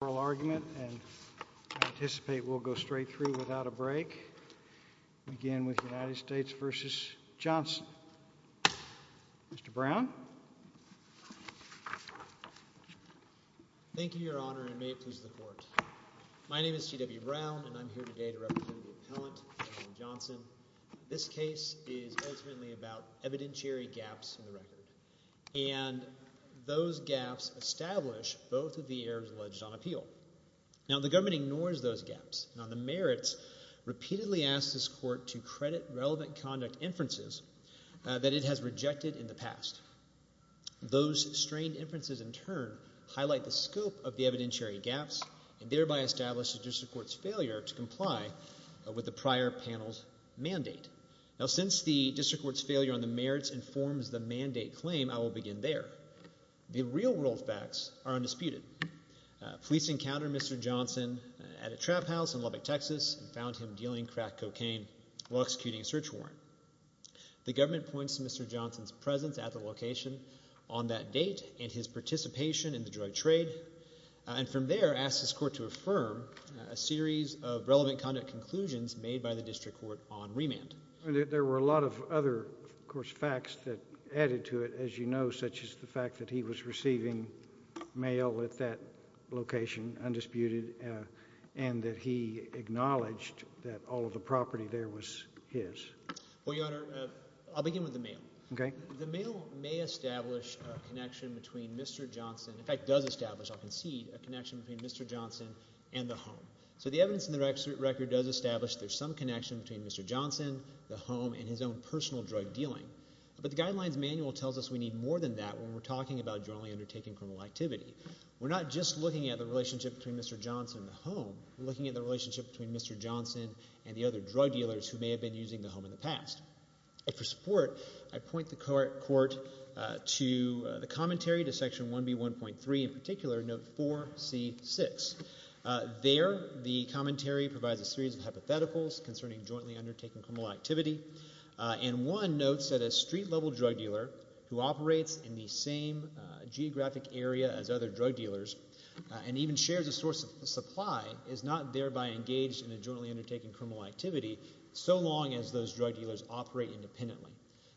This case is ultimately about evidentiary gaps in the record, and those gaps establish both of the errors alleged on appeal. Now, the government ignores those gaps, and on the merits, repeatedly asks this Court to credit relevant conduct inferences that it has rejected in the past. Those strained inferences, in turn, highlight the scope of the evidentiary gaps and thereby establish the District Court's failure to comply with the prior panel's mandate. Now since the District Court's failure on the merits informs the mandate claim, I will Police encountered Mr. Johnson at a trap house in Lubbock, Texas, and found him dealing crack cocaine while executing a search warrant. The government points to Mr. Johnson's presence at the location on that date and his participation in the drug trade, and from there asks this Court to affirm a series of relevant conduct conclusions made by the District Court on remand. There were a lot of other, of course, facts that added to it, as you know, such as the fact that he was receiving mail at that location, undisputed, and that he acknowledged that all of the property there was his. Well, Your Honor, I'll begin with the mail. Okay. The mail may establish a connection between Mr. Johnson, in fact, does establish, I'll concede, a connection between Mr. Johnson and the home. So the evidence in the record does establish there's some connection between Mr. Johnson, the home, and his own personal drug dealing. But the Guidelines Manual tells us we need more than that when we're talking about jointly undertaking criminal activity. We're not just looking at the relationship between Mr. Johnson and the home, we're looking at the relationship between Mr. Johnson and the other drug dealers who may have been using the home in the past. For support, I point the Court to the commentary to Section 1B1.3, in particular, Note 4C6. There, the commentary provides a series of hypotheticals concerning jointly undertaking criminal activity. And one notes that a street-level drug dealer who operates in the same geographic area as other drug dealers, and even shares a source of supply, is not thereby engaged in a jointly undertaking criminal activity so long as those drug dealers operate independently.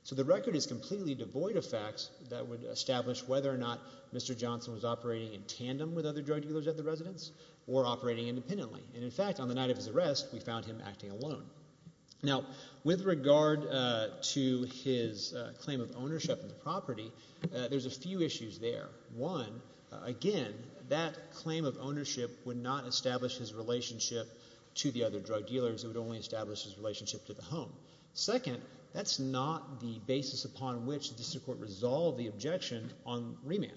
So the record is completely devoid of facts that would establish whether or not Mr. Johnson was operating in tandem with other drug dealers at the residence, or operating independently. And in fact, on the night of his arrest, we found him acting alone. Now, with regard to his claim of ownership of the property, there's a few issues there. One, again, that claim of ownership would not establish his relationship to the other drug dealers, it would only establish his relationship to the home. Second, that's not the basis upon which the District Court resolved the objection on remand.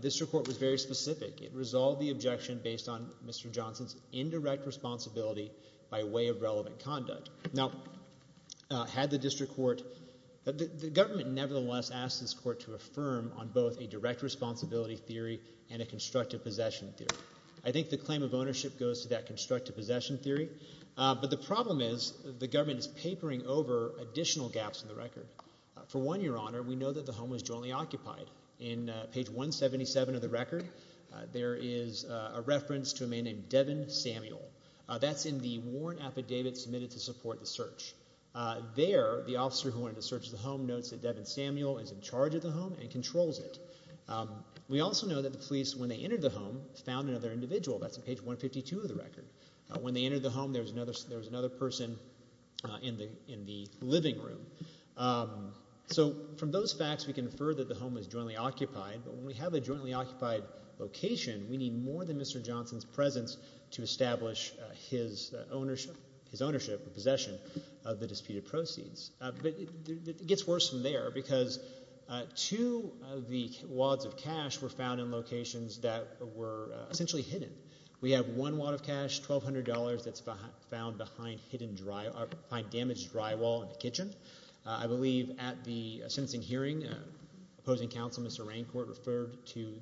This report was very specific. It resolved the objection based on Mr. Johnson's indirect responsibility by way of relevant conduct. Now, had the District Court, the government nevertheless asked this court to affirm on both a direct responsibility theory and a constructive possession theory. I think the claim of ownership goes to that constructive possession theory. But the problem is, the government is papering over additional gaps in the record. For one, Your Honor, we know that the home was jointly occupied. In page 177 of the record, there is a reference to a man named Devin Samuel. That's in the warrant affidavit submitted to support the search. There, the officer who wanted to search the home notes that Devin Samuel is in charge of the home and controls it. We also know that the police, when they entered the home, found another individual. That's in page 152 of the record. When they entered the home, there was another person in the living room. So, from those facts, we can infer that the home was jointly occupied. But when we have a jointly occupied location, we need more than Mr. Johnson's presence to establish his ownership, possession of the disputed proceeds. But it gets worse from there because two of the wads of cash were found in locations that were essentially hidden. We have one wad of cash, $1,200, that's found behind damaged drywall in the kitchen. I believe at the sentencing hearing, opposing counsel, Mr. Raincourt, referred to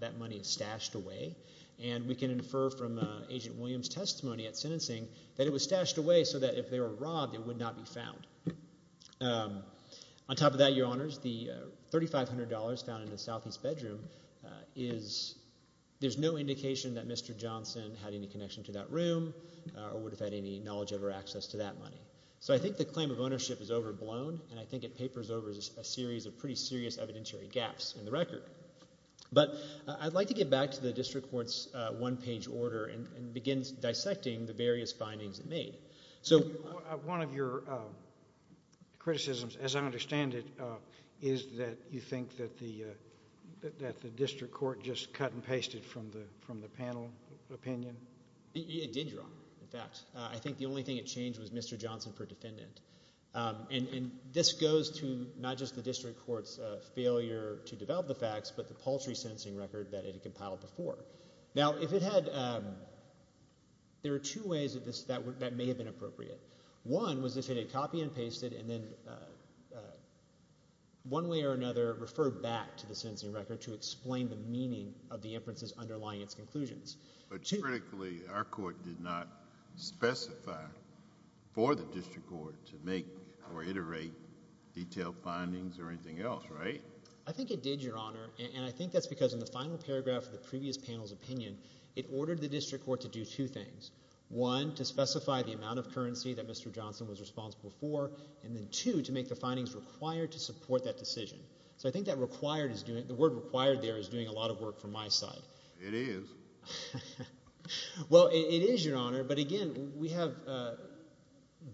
that money as stashed away. And we can infer from Agent Williams' testimony at sentencing that it was stashed away so that if they were robbed, it would not be found. On top of that, Your Honors, the $3,500 found in the southeast bedroom, there's no indication that Mr. Johnson had any connection to that room or would have had any knowledge of or access to that money. So I think the claim of ownership is overblown, and I think it papers over a series of pretty serious evidentiary gaps in the record. But I'd like to get back to the district court's one-page order and begin dissecting the various findings it made. One of your criticisms, as I understand it, is that you think that the district court just cut and pasted from the panel opinion? It did, Your Honor, in fact. I think the only thing it changed was Mr. Johnson per defendant. And this goes to not just the district court's failure to develop the facts, but the paltry sentencing record that it had compiled before. Now, there are two ways that may have been appropriate. One was if it had copied and pasted, and then one way or another referred back to the sentencing record to explain the meaning of the inferences underlying its conclusions. But critically, our court did not specify for the district court to make or iterate detailed findings or anything else, right? I think it did, Your Honor, and I think that's because in the final paragraph of the previous panel's opinion, it ordered the district court to do two things. One, to specify the amount of currency that Mr. Johnson was responsible for, and then two, to make the findings required to support that decision. So I think the word required there is doing a lot of work from my side. It is. Well, it is, Your Honor. But again, we have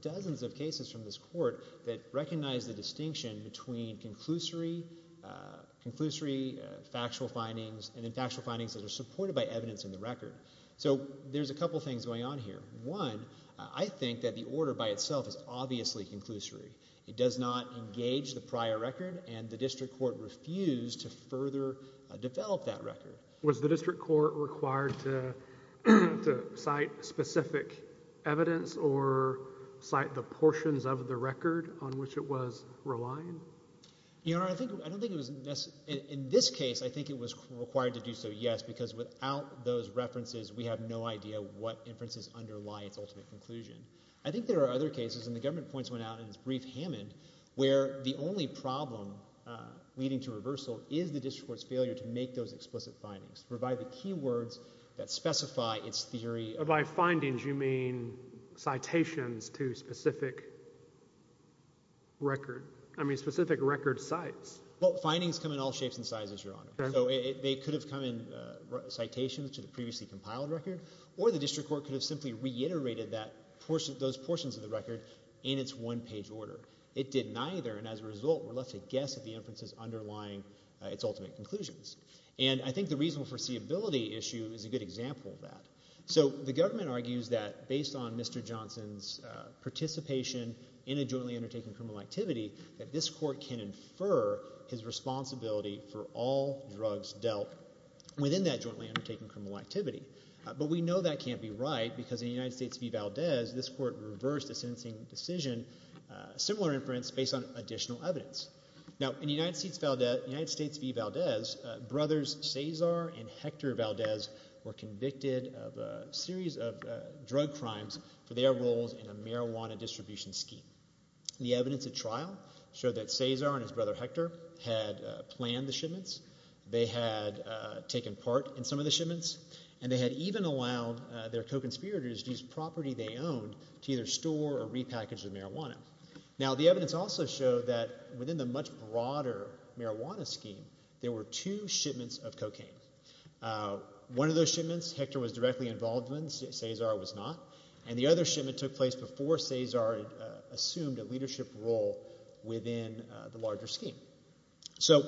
dozens of cases from this court that recognize the distinction between conclusory factual findings and then factual findings that are supported by evidence in the record. So there's a couple things going on here. One, I think that the order by itself is obviously conclusory. It does not engage the prior record, and the district court refused to further develop that record. Was the district court required to cite specific evidence or cite the portions of the record on which it was relying? Your Honor, I don't think it was necessary. In this case, I think it was required to do so, yes, because without those references, we have no idea what inferences underlie its ultimate conclusion. I think there are other cases, and the government points one out in its brief Hammond, where the only problem leading to reversal is the district court's failure to make those explicit findings, to provide the key words that specify its theory. By findings, you mean citations to specific record... I mean, specific record sites. Well, findings come in all shapes and sizes, Your Honor. So they could have come in citations to the previously compiled record, or the district court could have simply reiterated those portions of the record in its one-page order. It did neither, and as a result, we're left to guess at the inferences underlying its ultimate conclusions. And I think the reasonable foreseeability issue is a good example of that. So the government argues that, based on Mr. Johnson's participation in a jointly undertaken criminal activity, that this court can infer his responsibility for all drugs dealt within that jointly undertaken criminal activity. But we know that can't be right, because in United States v. Valdez, this court reversed a sentencing decision, similar inference, based on additional evidence. Now, in United States v. Valdez, brothers Cesar and Hector Valdez were convicted of a series of drug crimes for their roles in a marijuana distribution scheme. The evidence at trial showed that Cesar and his brother Hector had planned the shipments, they had taken part in some of the shipments, and they had even allowed their co-conspirators to use property they owned to either store or repackage the marijuana. Now, the evidence also showed that within the much broader marijuana scheme, there were two shipments of cocaine. One of those shipments, Hector was directly involved in, Cesar was not. And the other shipment took place before Cesar assumed a leadership role within the larger scheme. So,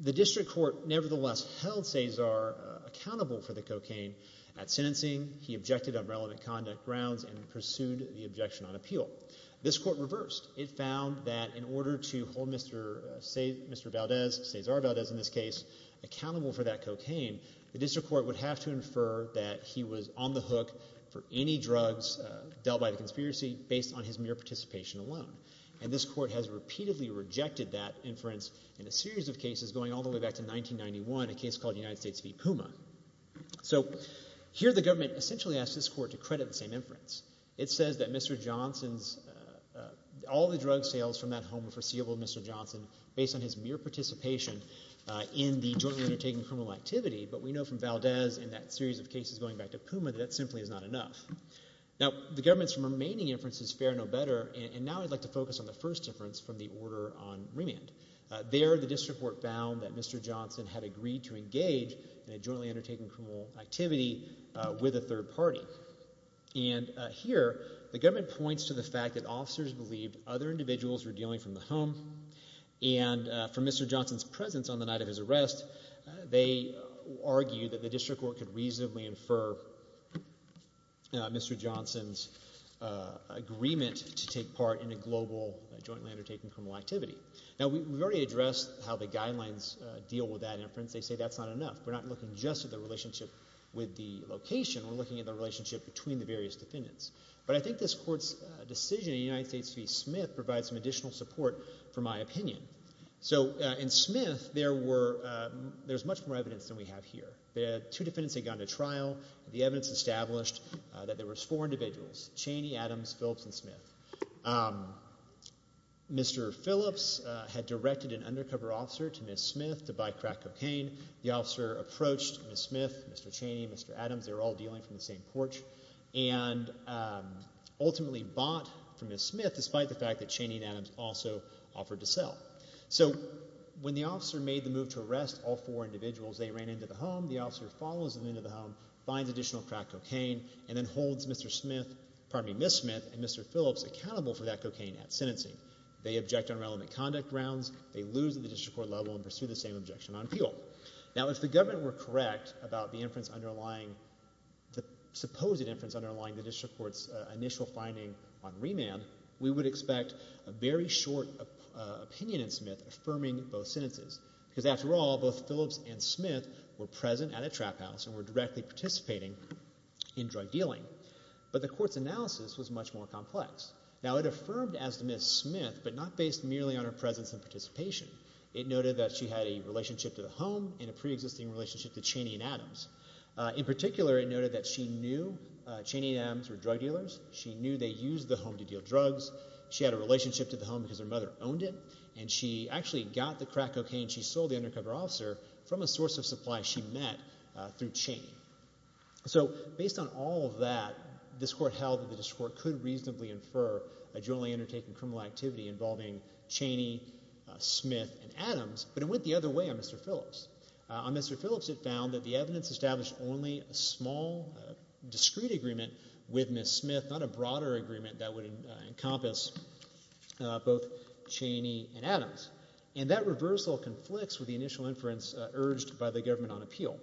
the district court, nevertheless, held Cesar accountable for the cocaine at sentencing. He objected on relevant conduct grounds and pursued the objection on appeal. This court reversed. It found that in order to hold Mr. Valdez, Cesar Valdez in this case, accountable for that cocaine, the district court would have to infer that he was on the hook for any drugs dealt by the conspiracy based on his mere participation alone. And this court has repeatedly rejected that inference in a series of cases going all the way back to 1991, a case called United States v. Puma. So, here the government essentially asked this court to credit the same inference. It says that Mr. Johnson's, all the drug sales from that home were foreseeable, Mr. Johnson, based on his mere participation in the jointly undertaken criminal activity. But we know from Valdez and that series of cases going back to Puma that that simply is not enough. Now, the government's remaining inference is fair, no better, and now I'd like to focus on the first difference from the order on remand. There, the district court found that Mr. Johnson had agreed to engage in a jointly undertaken criminal activity with a third party. And here, the government points to the fact that officers believed other individuals were dealing from the home and from Mr. Johnson's presence on the night of his arrest, they argue that the district court could reasonably infer Mr. Johnson's agreement to take part in a global jointly undertaken criminal activity. Now, we've already addressed how the guidelines deal with that inference. They say that's not enough. We're not looking just at the relationship with the location. We're looking at the relationship between the various defendants. But I think this court's decision in the United States to be Smith provides some additional support for my opinion. So, in Smith, there's much more evidence than we have here. Two defendants had gone to trial. The evidence established that there were four individuals, Chaney, Adams, Phillips, and Smith. Mr. Phillips had directed an undercover officer to Ms. Smith to buy crack cocaine. The officer approached Ms. Smith, Mr. Chaney, Mr. Adams. They were all dealing from the same porch. And ultimately bought from Ms. Smith, despite the fact that Chaney and Adams also offered to sell. So, when the officer made the move to arrest all four individuals, they ran into the home. The officer follows them into the home, finds additional crack cocaine, and then holds Ms. Smith and Mr. Phillips accountable for that cocaine at sentencing. They object on relevant conduct grounds. They lose at the district court level and pursue the same objection on appeal. Now, if the government were correct about the supposed inference underlying the district court's initial finding on remand, we would expect a very short opinion in Smith affirming both sentences. Because, after all, both Phillips and Smith were present at a trap house and were directly participating in drug dealing. But the court's analysis was much more complex. Now, it affirmed as to Ms. Smith, but not based merely on her presence and participation. It noted that she had a relationship to the home and a pre-existing relationship to Chaney and Adams. In particular, it noted that she knew Chaney and Adams were drug dealers. She knew they used the home to deal drugs. She had a relationship to the home because her mother owned it. And she actually got the crack cocaine and she sold the undercover officer from a source of supply she met through Chaney. So, based on all of that, this court held that the district court could reasonably infer a generally undertaken criminal activity involving Chaney, Smith, and Adams. But it went the other way on Mr. Phillips. On Mr. Phillips, it found that the evidence established only a small, discrete agreement with Ms. Smith, not a broader agreement that would encompass both Chaney and Adams. And that reversal conflicts with the initial inference urged by the government on appeal.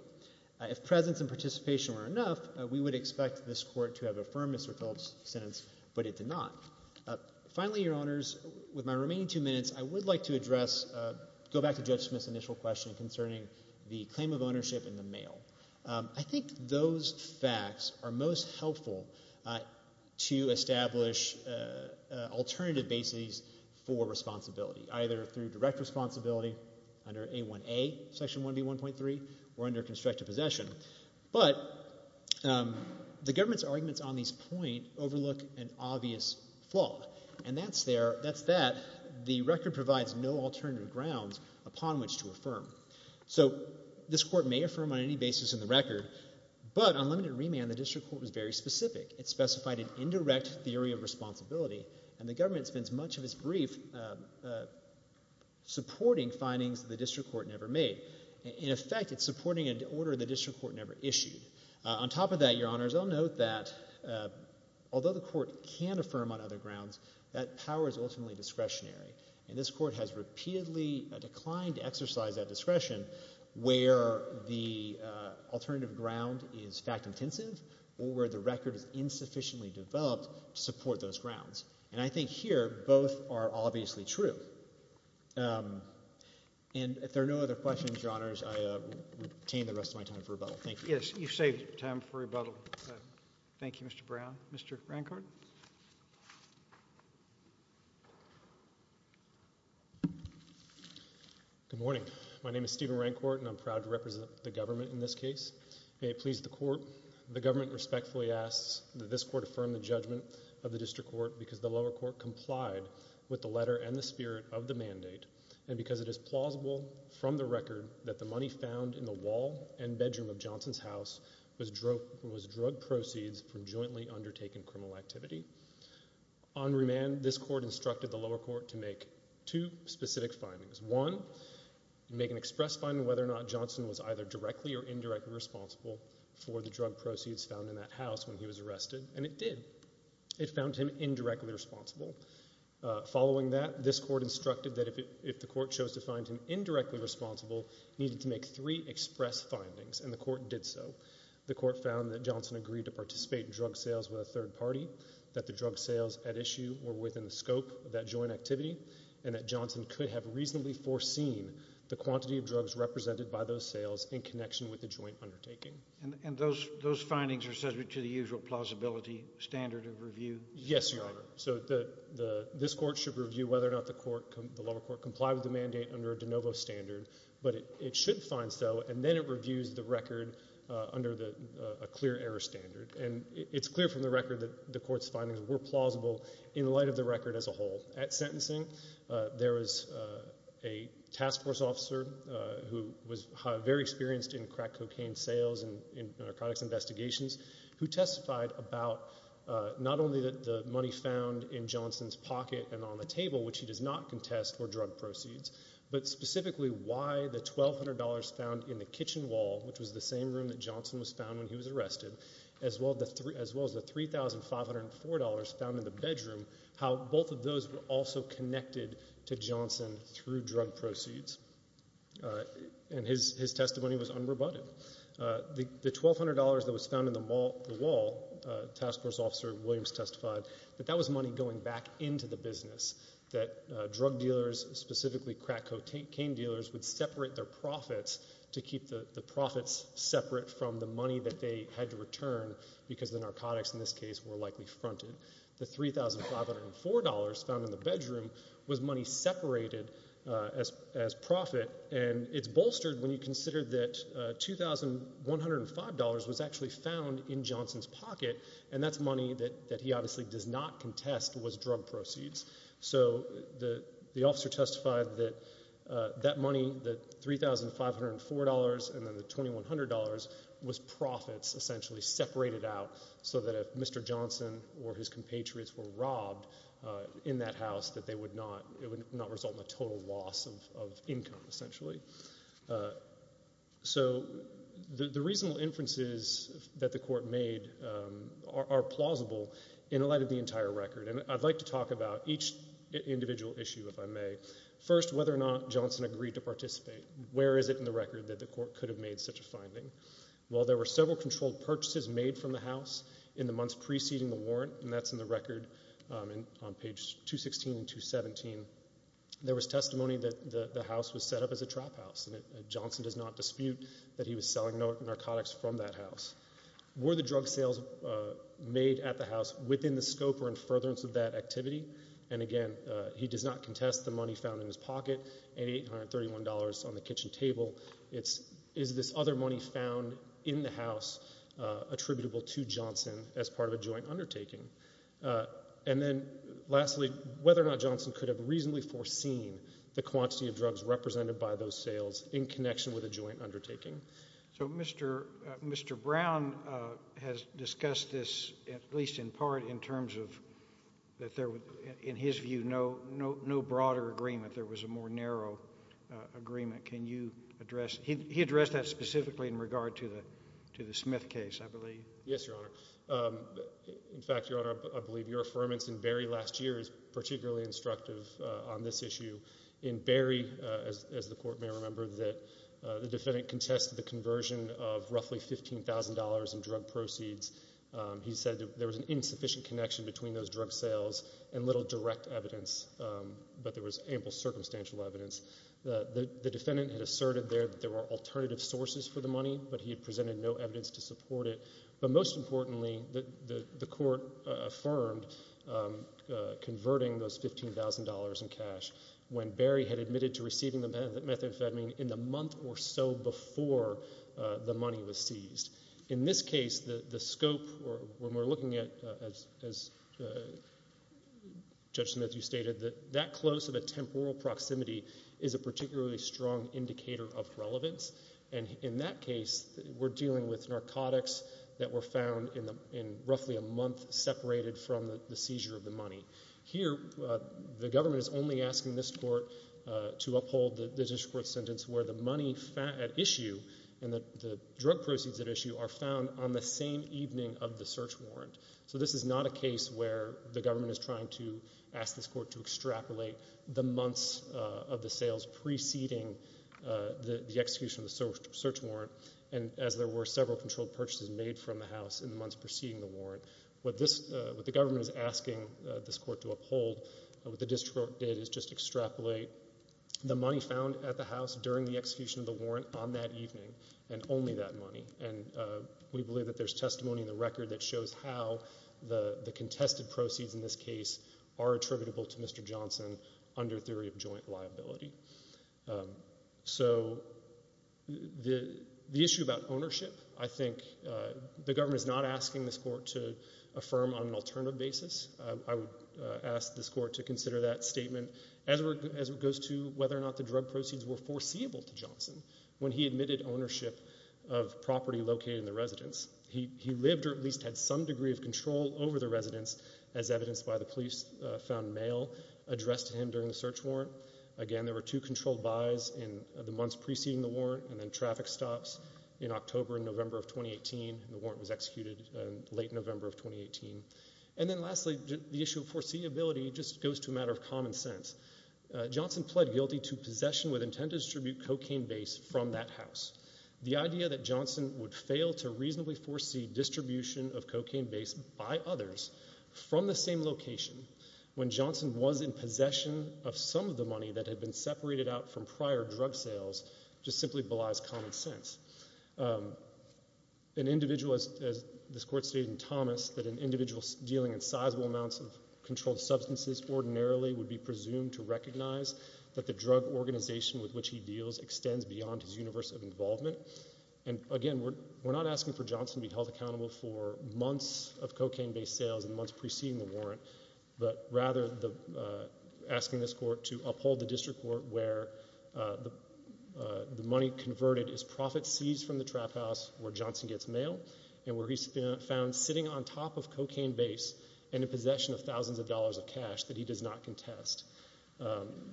If presence and participation were enough, we would expect this court to have affirmed Mr. Phillips' sentence, but it did not. Finally, Your Honors, with my remaining two minutes, I would like to address, go back to Judge Smith's initial question concerning the claim of ownership in the mail. I think those facts are most helpful to establish alternative bases for responsibility, either through direct responsibility under Section 1B1.3 or under constructive possession. But, the government's arguments on this point overlook an obvious flaw. And that's that the record provides no alternative grounds upon which to affirm. So, this court may affirm on any basis in the record, but on limited remand, the district court was very specific. It specified an indirect theory of responsibility, and the government spends much of its brief supporting findings the district court never made. In effect, it's supporting an order the district court never issued. On top of that, Your Honors, I'll note that although the court can affirm on other grounds, that power is ultimately discretionary. And this court has repeatedly declined to exercise that discretion where the alternative ground is fact-intensive or where the record is insufficiently And I think here, both are obviously true. And if there are no other questions, Your Honors, I retain the rest of my time for rebuttal. Thank you. Yes, you've saved time for rebuttal. Thank you, Mr. Brown. Mr. Rancourt? Good morning. My name is Steven Rancourt, and I'm proud to represent the government in this case. May it please the court, the government respectfully asks that this court affirm the judgment of the district court because the lower court complied with the letter and the spirit of the mandate and because it is plausible from the record that the money found in the wall and bedroom of Johnson's house was drug proceeds from jointly undertaken criminal activity. On remand, this court instructed the lower court to make two specific findings. One, make an express finding whether or not Johnson was either directly or indirectly responsible for the drug proceeds found in that house when he was arrested, and it did. It found him indirectly responsible. Following that, this court instructed that if the court chose to find him indirectly responsible, it needed to make three express findings, and the court did so. The court found that Johnson agreed to participate in drug sales with a third party, that the drug sales at issue were within the scope of that joint activity, and that Johnson could have reasonably foreseen the quantity of drugs represented by those sales in connection with the joint undertaking. And those findings are subject to the usual plausibility standard of review? Yes, Your Honor. This court should review whether or not the lower court complied with the mandate under a de novo standard, but it should find so, and then it reviews the record under a clear error standard, and it's clear from the record that the court's findings were plausible in light of the record as a whole. At sentencing, there was a task force officer who was very experienced in crack cocaine sales and narcotics investigations, who testified about not only the money found in Johnson's pocket and on the table, which he does not contest, were drug proceeds, but specifically why the $1,200 found in the kitchen wall, which was the same room that Johnson was found when he was arrested, as well as the $3,504 found in the bedroom, how both of those were also connected to Johnson through drug proceeds. And his testimony was unrebutted. The $1,200 that was found in the wall, task force officer Williams testified that that was money going back into the business, that drug dealers, specifically crack cocaine dealers, would separate their profits to keep the profits separate from the money that they had to return because the narcotics in this case were likely fronted. The $3,504 found in the bedroom was money separated as profit and it's bolstered when you consider that $2,105 was actually found in Johnson's pocket and that's money that he obviously does not contest was drug proceeds. So the officer testified that that money, the $3,504 and then the $2,100 was profits essentially separated out so that if Mr. Johnson or his compatriots were robbed in that house it would not result in a total loss of income essentially. So the reasonable inferences that the court made are plausible in light of the entire record and I'd like to talk about each individual issue if I may. First, whether or not Johnson agreed to participate. Where is it in the record that the court could have made such a finding? Well, there were several controlled purchases made from the house in the months preceding the warrant and that's in the record on page 216 and 217 there was testimony that the house was set up as a trap house and Johnson does not dispute that he was selling narcotics from that house. Were the drug sales made at the house within the scope or in furtherance of that activity? And again, he does not contest the money found in his pocket and $831 on the kitchen table is this other money found in the house attributable to Johnson as part of a joint undertaking. And then lastly, whether or not Johnson could have reasonably foreseen the quantity of drugs represented by those sales in connection with a joint undertaking. So Mr. Brown has discussed this at least in part in terms of that there was in his view no broader agreement. There was a more narrow agreement. Can you address he addressed that specifically in regard to the Smith case I believe. Yes, your honor. In fact, your honor, I believe your affirmance in Berry last year is particularly instructive on this issue. In Berry, as the court may remember that the defendant contested the conversion of roughly $15,000 in drug proceeds. He said that there was an insufficient connection between those drug sales and little direct evidence The defendant had asserted there that there were alternative sources for the money but he had presented no evidence to support it but most importantly the court affirmed converting those $15,000 in cash when Berry had admitted to receiving the methamphetamine in the month or so before the money was seized. In this case, the scope when we're looking at Judge Smith, you stated that that close of a temporal proximity is a particularly strong indicator of relevance and in that case, we're dealing with narcotics that were found in roughly a month separated from the seizure of the money. Here, the government is only asking this court to uphold the district court sentence where the money at issue and the drug proceeds at issue are found on the same evening of the search warrant. So this is not a case where the government is trying to ask this court to extrapolate the months of the sales preceding the execution of the search warrant and as there were several controlled purchases made from the house in the months preceding the warrant. What the government is asking this court to uphold, what the district court did is just extrapolate the money found at the house during the execution of the warrant on that evening and only that money. We believe that there's testimony in the record that shows how the contested proceeds in this case are attributable to Mr. Johnson under theory of joint liability. So the issue about ownership I think the government is not asking this court to affirm on an alternative basis. I would ask this court to consider that statement as it goes to whether or not the drug proceeds were foreseeable to Johnson when he admitted ownership of property located in the residence. He lived or at least had some degree of control over the residence as well addressed to him during the search warrant. Again, there were two controlled buys in the months preceding the warrant and then traffic stops in October and November of 2018. The warrant was executed in late November of 2018. And then lastly, the issue of foreseeability just goes to a matter of common sense. Johnson pled guilty to possession with intent to distribute cocaine base from that house. The idea that Johnson would fail to reasonably foresee distribution of cocaine base by others from the same location when Johnson was in possession of some of the money that had been separated out from prior drug sales just simply belies common sense. An individual, as this court stated in Thomas, that an individual dealing in sizable amounts of controlled substances ordinarily would be presumed to recognize that the drug organization with which he deals extends beyond his universe of involvement. And again, we're not asking for Johnson to be held accountable for months of cocaine base sales and months preceding the warrant, but rather asking this court to uphold the district court where the money converted is profit seized from the trap house where Johnson gets mail and where he's found sitting on top of cocaine base and in possession of thousands of dollars of cash that he does not contest.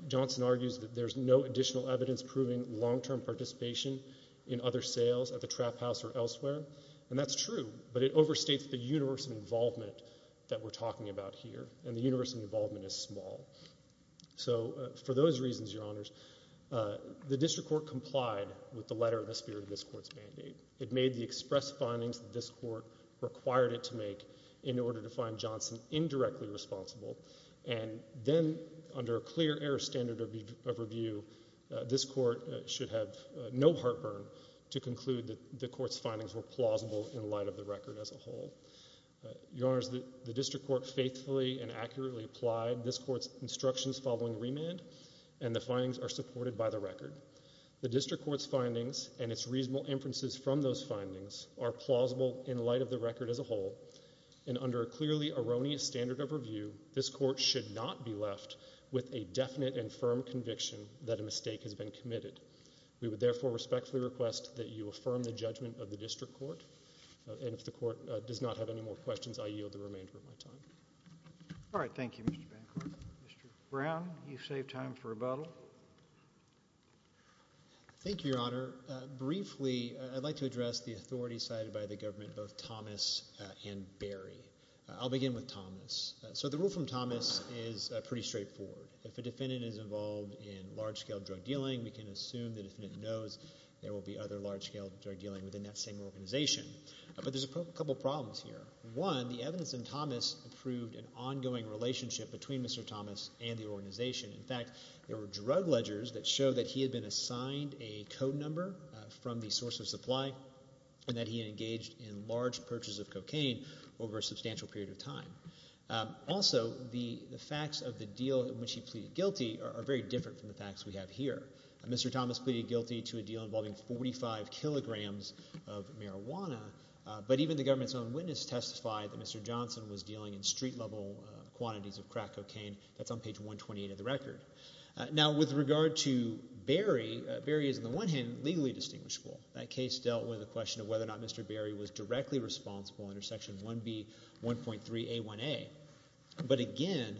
Johnson argues that there's no additional evidence proving long-term participation in other sales at the trap house or elsewhere. And that's true, but it overstates the universe of involvement that we're talking about here, and the universe of involvement is small. So for those reasons, Your Honors, the district court complied with the letter in the spirit of this court's mandate. It made the express findings that this court required it to make in order to find Johnson indirectly responsible, and then under a clear error standard of review, this court should have no heartburn to conclude that the court's findings were plausible in light of the record as a whole. Your Honors, the district court faithfully and accurately applied this court's instructions following remand, and the findings are supported by the record. The district court's findings and its reasonable inferences from those findings are plausible in light of the record as a whole, and under a clearly erroneous standard of review, this court should not be left with a definite and firm conviction that a mistake has been committed. We would therefore respectfully request that you affirm the judgment of the district court, and if the court does not have any more questions, I yield the remainder of my time. All right. Thank you, Mr. Bancroft. Mr. Brown, you've saved time for rebuttal. Thank you, Your Honor. Briefly, I'd like to address the authority cited by the government both Thomas and Barry. I'll begin with Thomas. So the rule from Thomas is pretty straightforward. If a defendant is involved in large-scale drug dealing, we can assume the defendant knows there will be other large-scale drug dealing within that same organization. But there's a couple problems here. One, the evidence in Thomas proved an ongoing relationship between Mr. Thomas and the organization. In fact, there were drug ledgers that showed that he had been assigned a code number from the source of supply and that he had engaged in large purchases of cocaine over a substantial period of time. Also, the facts of the deal in which he pleaded guilty are very different from the facts we have here. Mr. Thomas pleaded guilty to a deal involving 45 kilograms of marijuana, but even the government's own witness testified that Mr. Johnson was dealing in street-level quantities of crack cocaine. That's on page 128 of the record. Now, with regard to Barry, Barry is, on the one hand, legally distinguishable. That case dealt with the question of whether or not Mr. Barry was directly responsible under Section 1B 1.3 A1A. But again,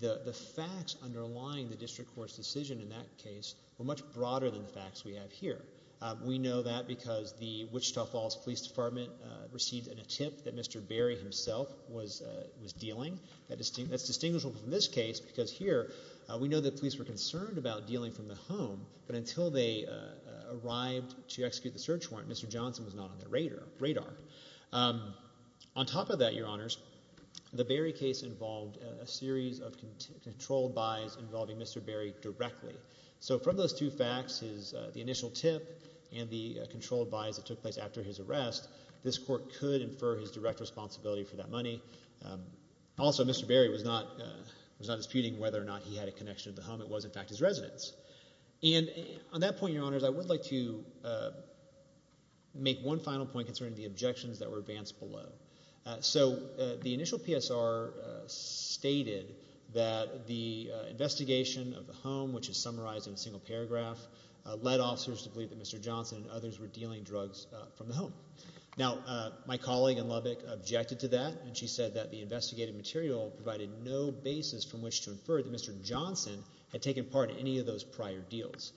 the facts underlying the District Court's decision in that case were much broader than the facts we have here. We know that because the Wichita Falls Police Department received an attempt that Mr. Barry himself was dealing. That's distinguishable from this case because here, we know the police were concerned about dealing from the home, but until they arrived to execute the search warrant, Mr. Johnson was not on their radar. On top of that, Your Honors, the Barry case involved a series of controlled buys involving Mr. Barry directly. So from those two facts, the initial tip and the controlled buys that took place after his arrest, this Court could infer his direct responsibility for that money. Also, Mr. Barry was not disputing whether or not he had a connection to the home. It was, in fact, his residence. And on that point, Your Honors, I would like to make one final point concerning the objections that were advanced below. The initial PSR stated that the investigation of the home, which is summarized in a single paragraph, led officers to believe that Mr. Johnson and others were dealing drugs from the home. Now, my colleague in Lubbock objected to that, and she said that the investigative material provided no basis from which to infer that Mr. Johnson had taken part in any of those prior deals.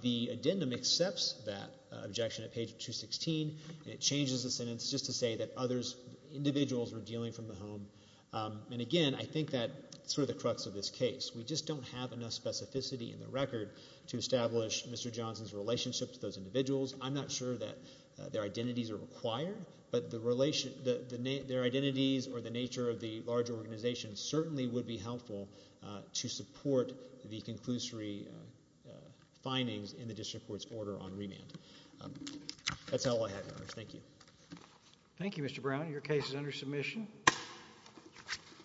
The addendum accepts that objection at page 216, and it changes the sentence just to say that individuals were dealing from the home. And again, I think that's sort of the crux of this case. We just don't have enough specificity in the record to establish Mr. Johnson's relationship to those individuals. I'm not sure that their identities are required, but their identities or the nature of the large organization certainly would be helpful to support the conclusory findings in the District Court's order on remand. That's all I have, Your Honors. Thank you. Thank you, Mr. Brown. Your case is under submission.